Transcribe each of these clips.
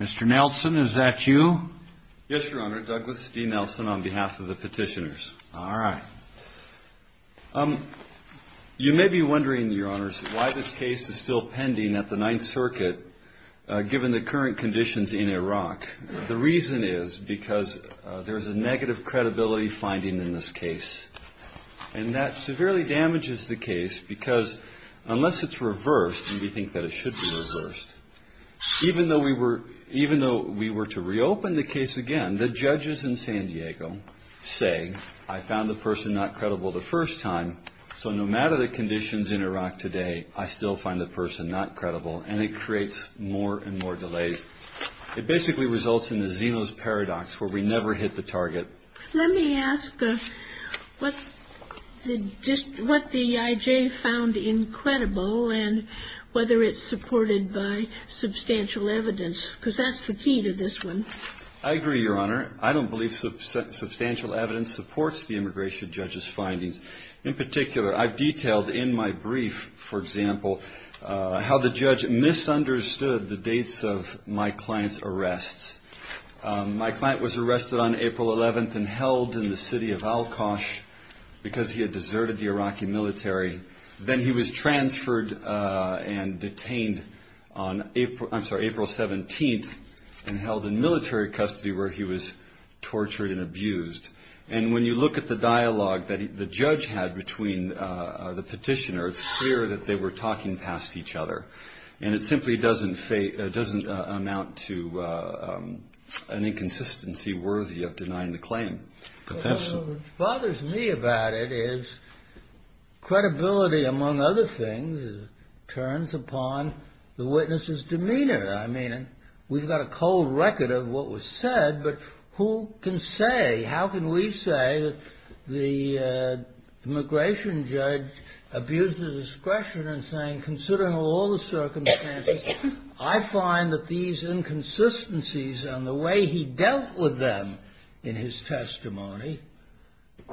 Mr. Nelson, is that you? Yes, Your Honor. Douglas D. Nelson on behalf of the petitioners. All right. You may be wondering, Your Honors, why this case is still pending at the Ninth Circuit, given the current conditions in Iraq. The reason is because there is a negative credibility finding in this case. And that severely damages the case because unless it's reversed, and we think that it should be reversed, even though we were to reopen the case again, the judges in San Diego say, I found the person not credible the first time, so no matter the conditions in Iraq today, I still find the person not credible, and it creates more and more delays. It basically results in the Zeno's Paradox, where we never hit the target. Let me ask what the I.J. found incredible and whether it's supported by substantial evidence, because that's the key to this one. I agree, Your Honor. I don't believe substantial evidence supports the immigration judge's findings. In particular, I've detailed in my brief, for example, how the judge misunderstood the dates of my client's arrests. My client was arrested on April 11th and held in the city of Al-Khash because he had deserted the Iraqi military. Then he was transferred and detained on April 17th and held in military custody where he was tortured and abused. And when you look at the dialogue that the judge had between the petitioners, it's clear that they were talking past each other. And it simply doesn't amount to an inconsistency worthy of denying the claim. What bothers me about it is credibility, among other things, turns upon the witness's demeanor. I mean, we've got a cold record of what was said, but who can say? The immigration judge abused his discretion in saying, considering all the circumstances, I find that these inconsistencies and the way he dealt with them in his testimony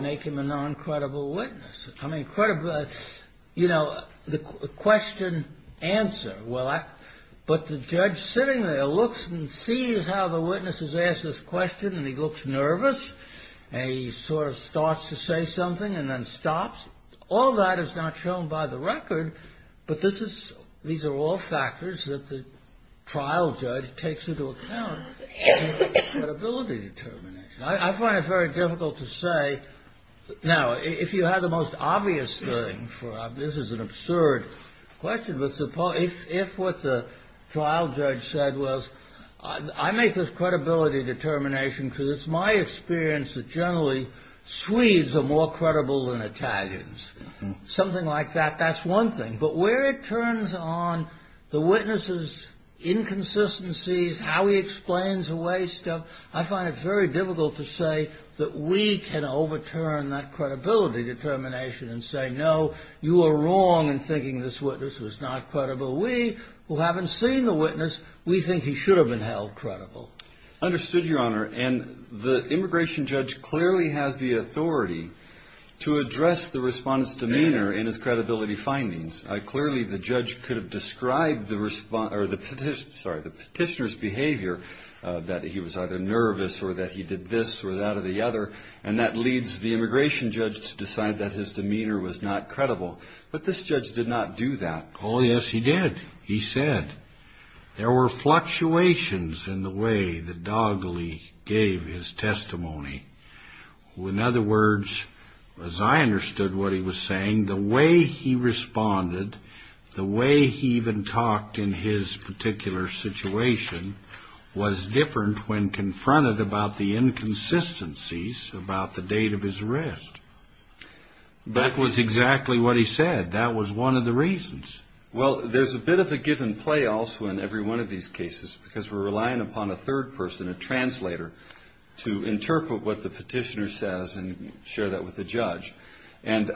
make him a non-credible witness. I mean, you know, the question, answer. But the judge sitting there looks and sees how the witness has asked this question, and he looks nervous. He sort of starts to say something and then stops. All that is not shown by the record, but these are all factors that the trial judge takes into account in his credibility determination. I find it very difficult to say. Now, if you have the most obvious thing, this is an absurd question, but if what the trial judge said was, I make this credibility determination because it's my experience that generally Swedes are more credible than Italians. Something like that, that's one thing. But where it turns on the witness's inconsistencies, how he explains away stuff, I find it very difficult to say that we can overturn that credibility determination and say, no, you are wrong in thinking this witness was not credible. We, who haven't seen the witness, we think he should have been held credible. Understood, Your Honor. And the immigration judge clearly has the authority to address the respondent's demeanor and his credibility findings. Clearly, the judge could have described the petitioner's behavior, that he was either nervous or that he did this or that or the other, and that leads the immigration judge to decide that his demeanor was not credible. But this judge did not do that. Oh, yes, he did. He said there were fluctuations in the way the doggily gave his testimony. In other words, as I understood what he was saying, the way he responded, the way he even talked in his particular situation, was different when confronted about the inconsistencies about the date of his arrest. That was exactly what he said. That was one of the reasons. Well, there's a bit of a give and play also in every one of these cases because we're relying upon a third person, a translator, to interpret what the petitioner says and share that with the judge. And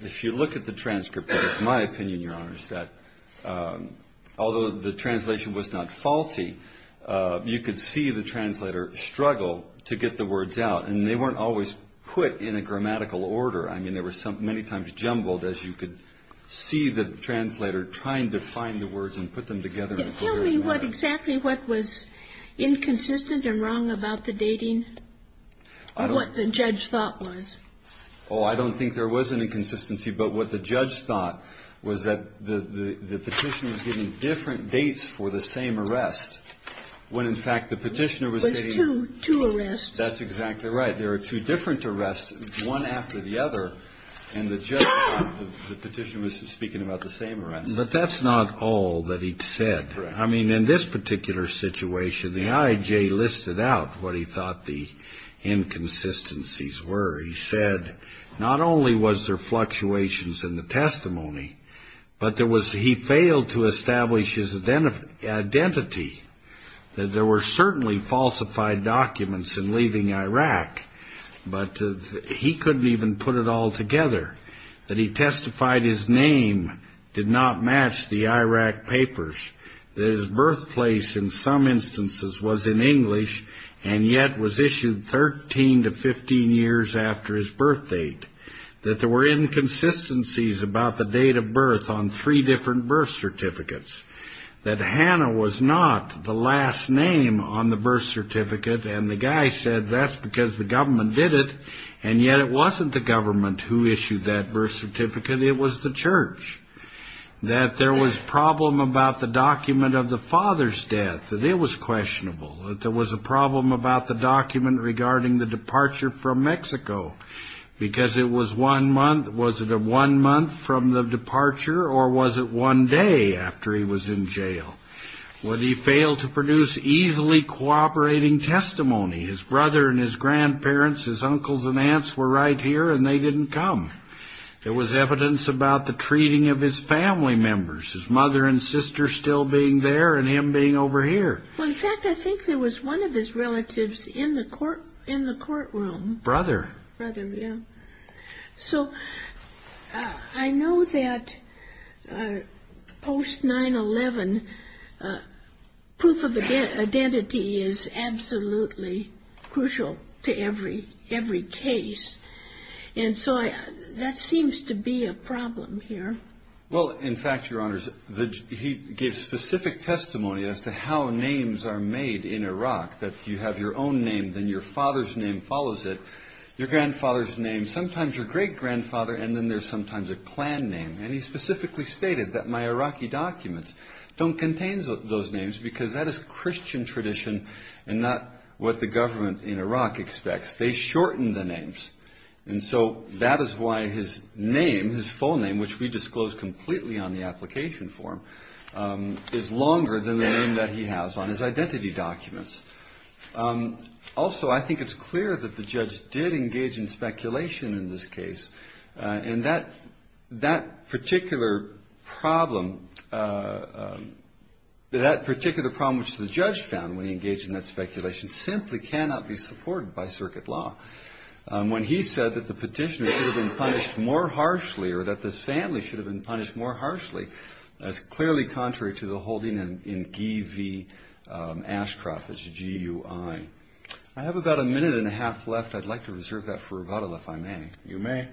if you look at the transcript, it's my opinion, Your Honors, that although the translation was not faulty, you could see the translator struggle to get the words out. And they weren't always put in a grammatical order. I mean, there were many times jumbled as you could see the translator trying to find the words and put them together. Tell me what exactly what was inconsistent and wrong about the dating and what the judge thought was. Oh, I don't think there was an inconsistency. But what the judge thought was that the petitioner was giving different dates for the same arrest when, in fact, the petitioner was stating. There was two arrests. That's exactly right. There were two different arrests, one after the other. And the judge found the petitioner was speaking about the same arrest. But that's not all that he said. I mean, in this particular situation, the IJ listed out what he thought the inconsistencies were. He said not only was there fluctuations in the testimony, but he failed to establish his identity, that there were certainly falsified documents in leaving Iraq, but he couldn't even put it all together, that he testified his name did not match the Iraq papers, that his birthplace in some instances was in English and yet was issued 13 to 15 years after his birth date, that there were inconsistencies about the date of birth on three different birth certificates, that Hannah was not the last name on the birth certificate, and the guy said that's because the government did it, and yet it wasn't the government who issued that birth certificate, it was the church, that there was a problem about the document of the father's death, that it was questionable, that there was a problem about the document regarding the departure from Mexico, because it was one month, was it one month from the departure, or was it one day after he was in jail? Well, he failed to produce easily cooperating testimony. His brother and his grandparents, his uncles and aunts were right here and they didn't come. There was evidence about the treating of his family members, his mother and sister still being there and him being over here. Well, in fact, I think there was one of his relatives in the courtroom. Brother. Brother, yeah. So I know that post-9-11, proof of identity is absolutely crucial to every case, and so that seems to be a problem here. Well, in fact, Your Honors, he gave specific testimony as to how names are made in Iraq, that you have your own name, then your father's name follows it, your grandfather's name, sometimes your great-grandfather, and then there's sometimes a clan name, and he specifically stated that my Iraqi documents don't contain those names because that is Christian tradition and not what the government in Iraq expects. They shorten the names, and so that is why his name, his full name, which we disclosed completely on the application form, is longer than the name that he has on his identity documents. Also, I think it's clear that the judge did engage in speculation in this case, and that particular problem, that particular problem which the judge found when he engaged in that speculation, simply cannot be supported by circuit law. When he said that the petitioner should have been punished more harshly or that this family should have been punished more harshly, that's clearly contrary to the holding in GUI Ashcroft, that's G-U-I. I have about a minute and a half left. I'd like to reserve that for rebuttal, if I may. You may.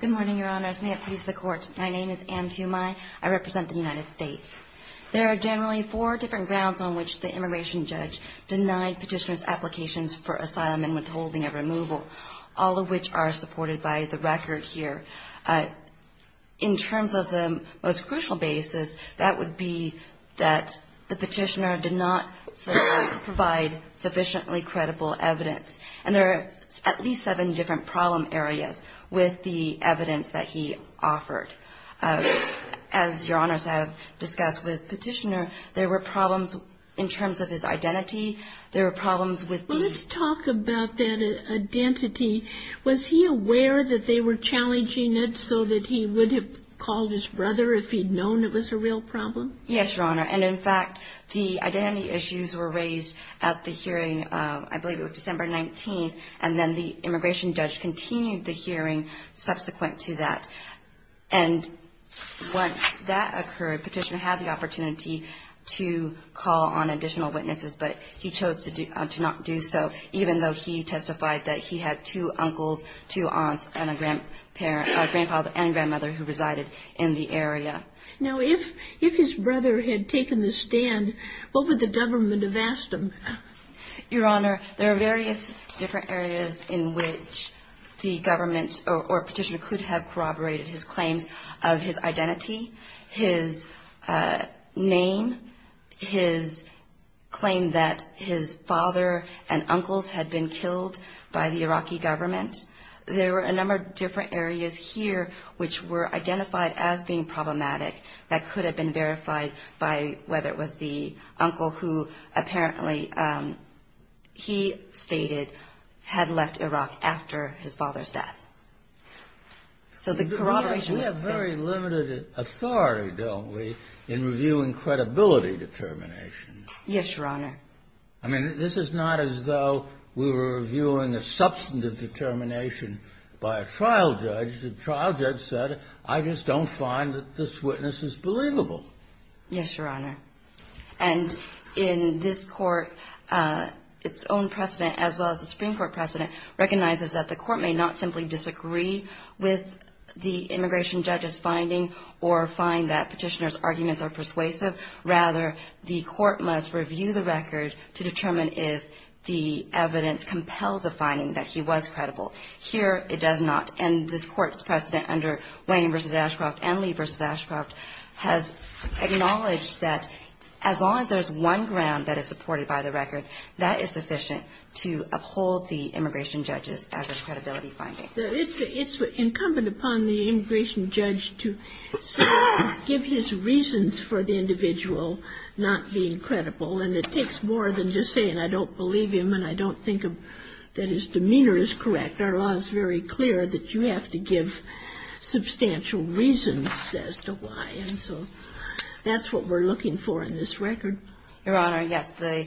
Good morning, Your Honors. May it please the Court. My name is Anne Tumai. I represent the United States. There are generally four different grounds on which the immigration judge denied petitioner's applications for asylum and withholding of removal, all of which are supported by the record here. In terms of the most crucial basis, that would be that the petitioner did not provide sufficiently credible evidence. And there are at least seven different problem areas with the evidence that he offered. As Your Honors have discussed with Petitioner, there were problems in terms of his identity. There were problems with the ---- Let's talk about that identity. Was he aware that they were challenging it so that he would have called his brother if he'd known it was a real problem? Yes, Your Honor. And, in fact, the identity issues were raised at the hearing, I believe it was December 19th, and then the immigration judge continued the hearing subsequent to that. And once that occurred, Petitioner had the opportunity to call on additional witnesses, but he chose to not do so, even though he testified that he had two uncles, two aunts, and a grandfather and grandmother who resided in the area. Now, if his brother had taken the stand, what would the government have asked him? Your Honor, there are various different areas in which the government or Petitioner could have corroborated his claims of his identity, his name, his claim that his father and uncles had been killed by the Iraqi government. There were a number of different areas here which were identified as being problematic that could have been verified by whether it was the uncle who apparently, he stated, had left Iraq after his father's death. So the corroboration was there. We have very limited authority, don't we, in reviewing credibility determinations. Yes, Your Honor. I mean, this is not as though we were reviewing a substantive determination by a trial judge. The trial judge said, I just don't find that this witness is believable. Yes, Your Honor. And in this Court, its own precedent, as well as the Supreme Court precedent, recognizes that the Court may not simply disagree with the immigration judge's finding or find that Petitioner's arguments are persuasive. Rather, the Court must review the record to determine if the evidence compels a finding that he was credible. Here, it does not. And this Court's precedent under Wayne v. Ashcroft and Lee v. Ashcroft has acknowledged that as long as there's one ground that is supported by the record, that is sufficient to uphold the immigration judge's adverse credibility finding. It's incumbent upon the immigration judge to give his reasons for the individual not being credible. And it takes more than just saying I don't believe him and I don't think that his demeanor is correct. Our law is very clear that you have to give substantial reasons as to why. And so that's what we're looking for in this record. Your Honor, yes. The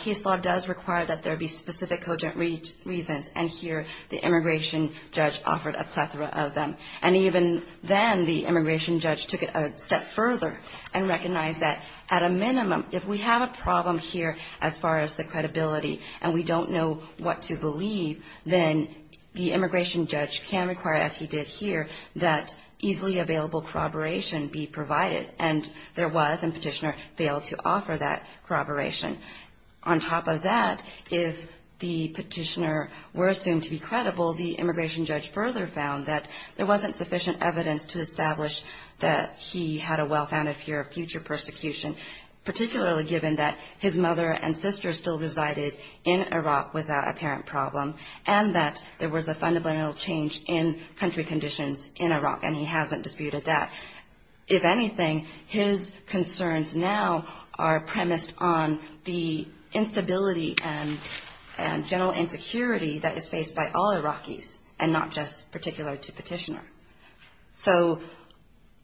case law does require that there be specific cogent reasons. And here, the immigration judge offered a plethora of them. And even then, the immigration judge took it a step further and recognized that at a minimum, if we have a problem here as far as the credibility and we don't know what to believe, then the immigration judge can require, as he did here, that easily available corroboration be provided. And there was, and Petitioner failed to offer that corroboration. On top of that, if the Petitioner were assumed to be credible, the immigration judge further found that there wasn't sufficient evidence to establish that he had a well-founded fear of future persecution, particularly given that his mother and sister still resided in Iraq without a parent problem and that there was a fundamental change in country conditions in Iraq, and he hasn't disputed that. If anything, his concerns now are premised on the instability and general insecurity that is faced by all Iraqis and not just particular to Petitioner. So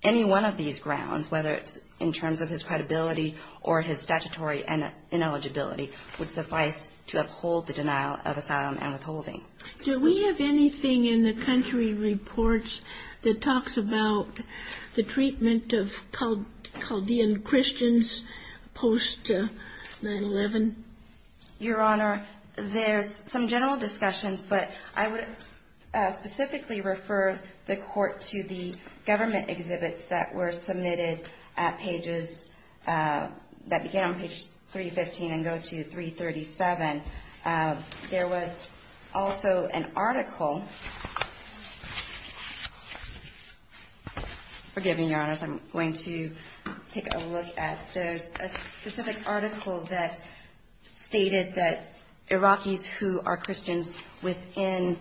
any one of these grounds, whether it's in terms of his credibility or his statutory ineligibility, would suffice to uphold the denial of asylum and withholding. Do we have anything in the country reports that talks about the treatment of Chaldean Christians post-9-11? Your Honor, there's some general discussions, but I would specifically refer the Court to the government exhibits that were submitted at pages, that began on page 315 and go to 337. There was also an article, forgive me, Your Honor, as I'm going to take a look at. There's a specific article that stated that Iraqis who are Christians within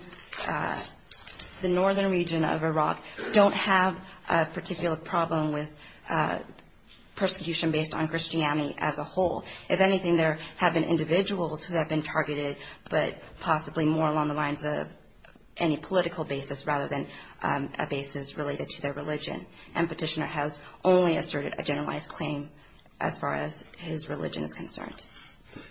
the northern region of Iraq don't have a particular problem with persecution based on Christianity as a whole. If anything, there have been individuals who have been targeted, but possibly more along the lines of any political basis rather than a basis related to their religion, and Petitioner has only asserted a generalized claim as far as his religion is concerned.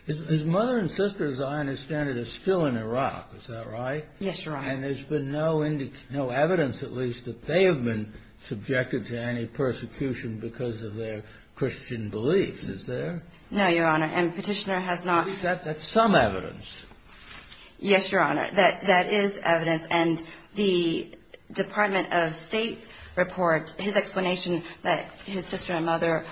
His mother and sister, as I understand it, are still in Iraq. Is that right? Yes, Your Honor. And there's been no evidence, at least, that they have been subjected to any persecution because of their Christian beliefs. Is there? No, Your Honor. And Petitioner has not. That's some evidence. Yes, Your Honor. That is evidence. And the Department of State reports his explanation that his sister and mother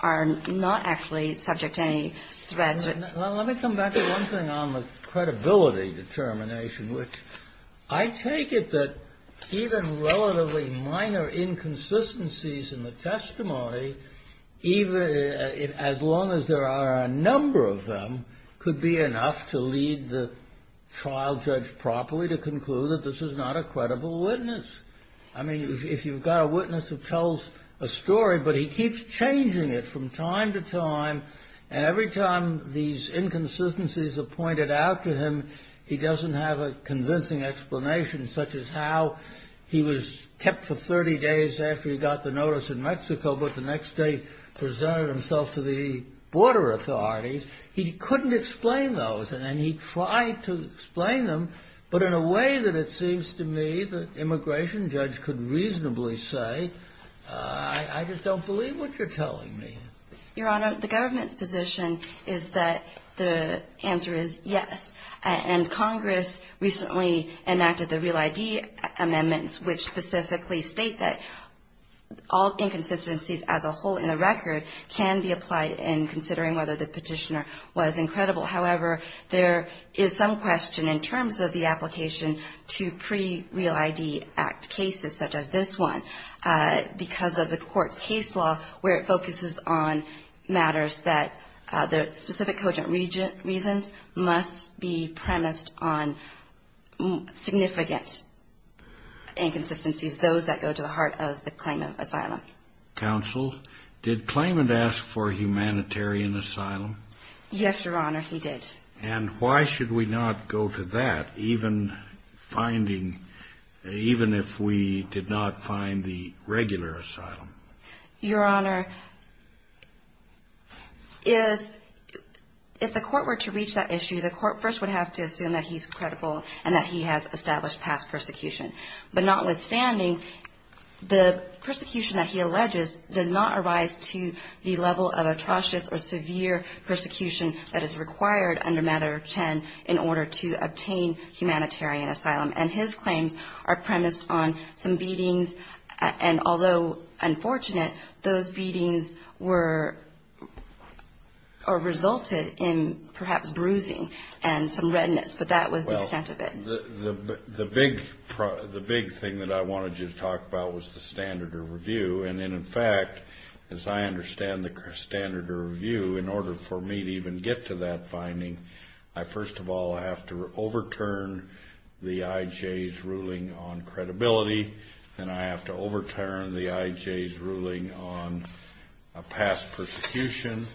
are not actually subject to any threats. Well, let me come back to one thing on the credibility determination, which I take it that even relatively minor inconsistencies in the testimony, as long as there are a number of them, could be enough to lead the trial judge properly to conclude that this is not a credible witness. I mean, if you've got a witness who tells a story, but he keeps changing it from time to time, and every time these inconsistencies are pointed out to him, he doesn't have a convincing explanation, such as how he was kept for 30 days after he got the notice in Mexico, but the next day presented himself to the border authorities. He couldn't explain those, and he tried to explain them, but in a way that it seems to me the immigration judge could reasonably say, I just don't believe what you're telling me. Your Honor, the government's position is that the answer is yes, and Congress recently enacted the Real ID amendments, which specifically state that all inconsistencies as a whole in the record can be applied in considering whether the petitioner was incredible. However, there is some question in terms of the application to pre-Real ID Act cases, such as this one, because of the court's case law, where it focuses on matters that, for specific cogent reasons, must be premised on significant inconsistencies, those that go to the heart of the claimant asylum. Counsel, did claimant ask for humanitarian asylum? Yes, Your Honor, he did. And why should we not go to that, even if we did not find the regular asylum? Your Honor, if the court were to reach that issue, the court first would have to assume that he's credible and that he has established past persecution. But notwithstanding, the persecution that he alleges does not arise to the level of atrocious or severe persecution that is required under Matter X in order to obtain humanitarian asylum, and his claims are premised on some beatings, and although unfortunate, those beatings were, or resulted in perhaps bruising and some redness, but that was the extent of it. The big thing that I wanted you to talk about was the standard of review, and in fact, as I understand the standard of review, in order for me to even get to that finding, I first of all have to overturn the IJ's ruling on credibility, then I have to overturn the IJ's ruling on past persecution,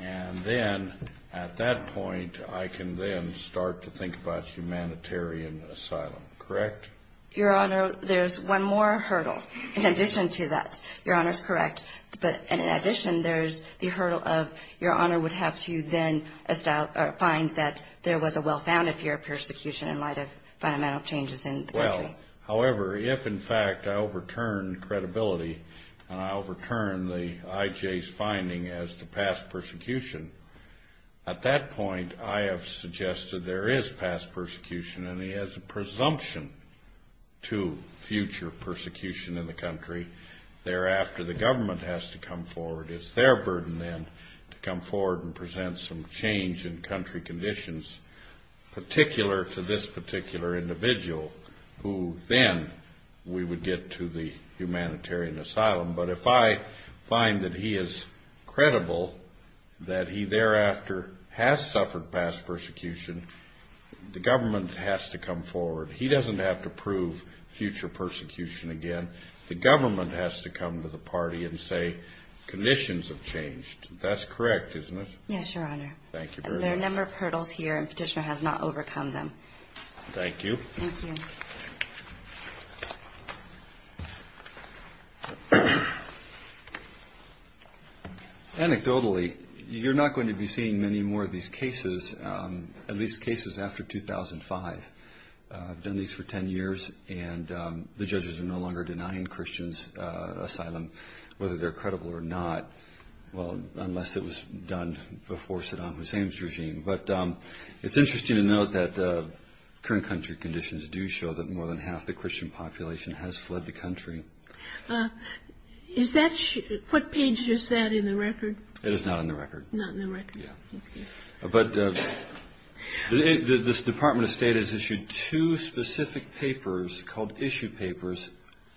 and then at that point I can then start to think about humanitarian asylum. Correct? Your Honor, there's one more hurdle in addition to that. Your Honor is correct, but in addition, there's the hurdle of Your Honor would have to then find that there was a well-founded fear of persecution in light of fundamental changes in the country. However, if in fact I overturned credibility and I overturned the IJ's finding as to past persecution, at that point I have suggested there is past persecution, and he has a presumption to future persecution in the country. Thereafter, the government has to come forward. It's their burden then to come forward and present some change in country conditions, particular to this particular individual, who then we would get to the humanitarian asylum. But if I find that he is credible that he thereafter has suffered past persecution, the government has to come forward. He doesn't have to prove future persecution again. The government has to come to the party and say conditions have changed. That's correct, isn't it? Yes, Your Honor. Thank you very much. There are a number of hurdles here, and Petitioner has not overcome them. Thank you. Thank you. Anecdotally, you're not going to be seeing many more of these cases, at least cases after 2005. I've done these for 10 years, and the judges are no longer denying Christians asylum, whether they're credible or not, unless it was done before Saddam Hussein's regime. But it's interesting to note that current country conditions do show that more than half the Christian population has fled the country. Is that what Page just said in the record? It is not in the record. Not in the record. Yeah. But this Department of State has issued two specific papers called Issue Papers,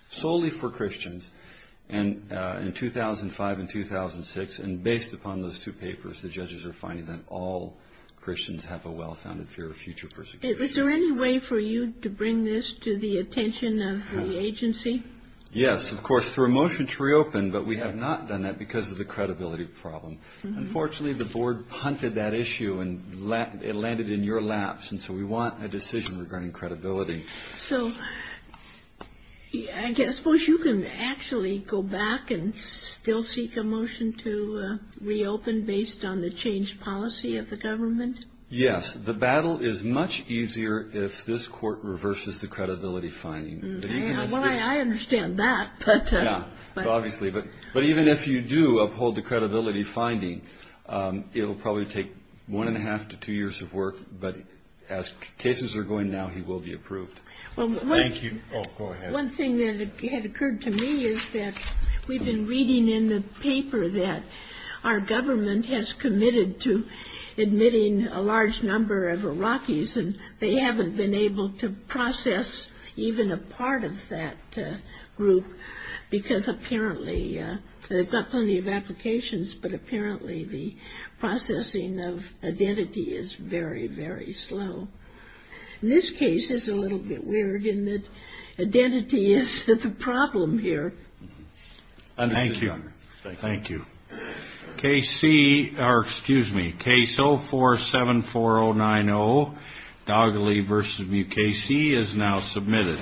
solely for Christians, in 2005 and 2006. And based upon those two papers, the judges are finding that all Christians have a well-founded fear of future persecution. Is there any way for you to bring this to the attention of the agency? Yes, of course, through a motion to reopen, but we have not done that because of the credibility problem. Unfortunately, the board punted that issue, and it landed in your laps, and so we want a decision regarding credibility. So I suppose you can actually go back and still seek a motion to reopen based on the changed policy of the government? Yes. The battle is much easier if this court reverses the credibility finding. Well, I understand that, but. Yeah, obviously. But even if you do uphold the credibility finding, it will probably take one and a half to two years of work. But as cases are going now, he will be approved. Thank you. Oh, go ahead. One thing that had occurred to me is that we've been reading in the paper that our government has committed to admitting a large number of Iraqis, and they haven't been able to process even a part of that group because apparently they've got plenty of applications, but apparently the processing of identity is very, very slow. And this case is a little bit weird in that identity is the problem here. Thank you. Thank you. Case C, or excuse me, Case 04-74090, Dogley v. Mukasey, is now submitted.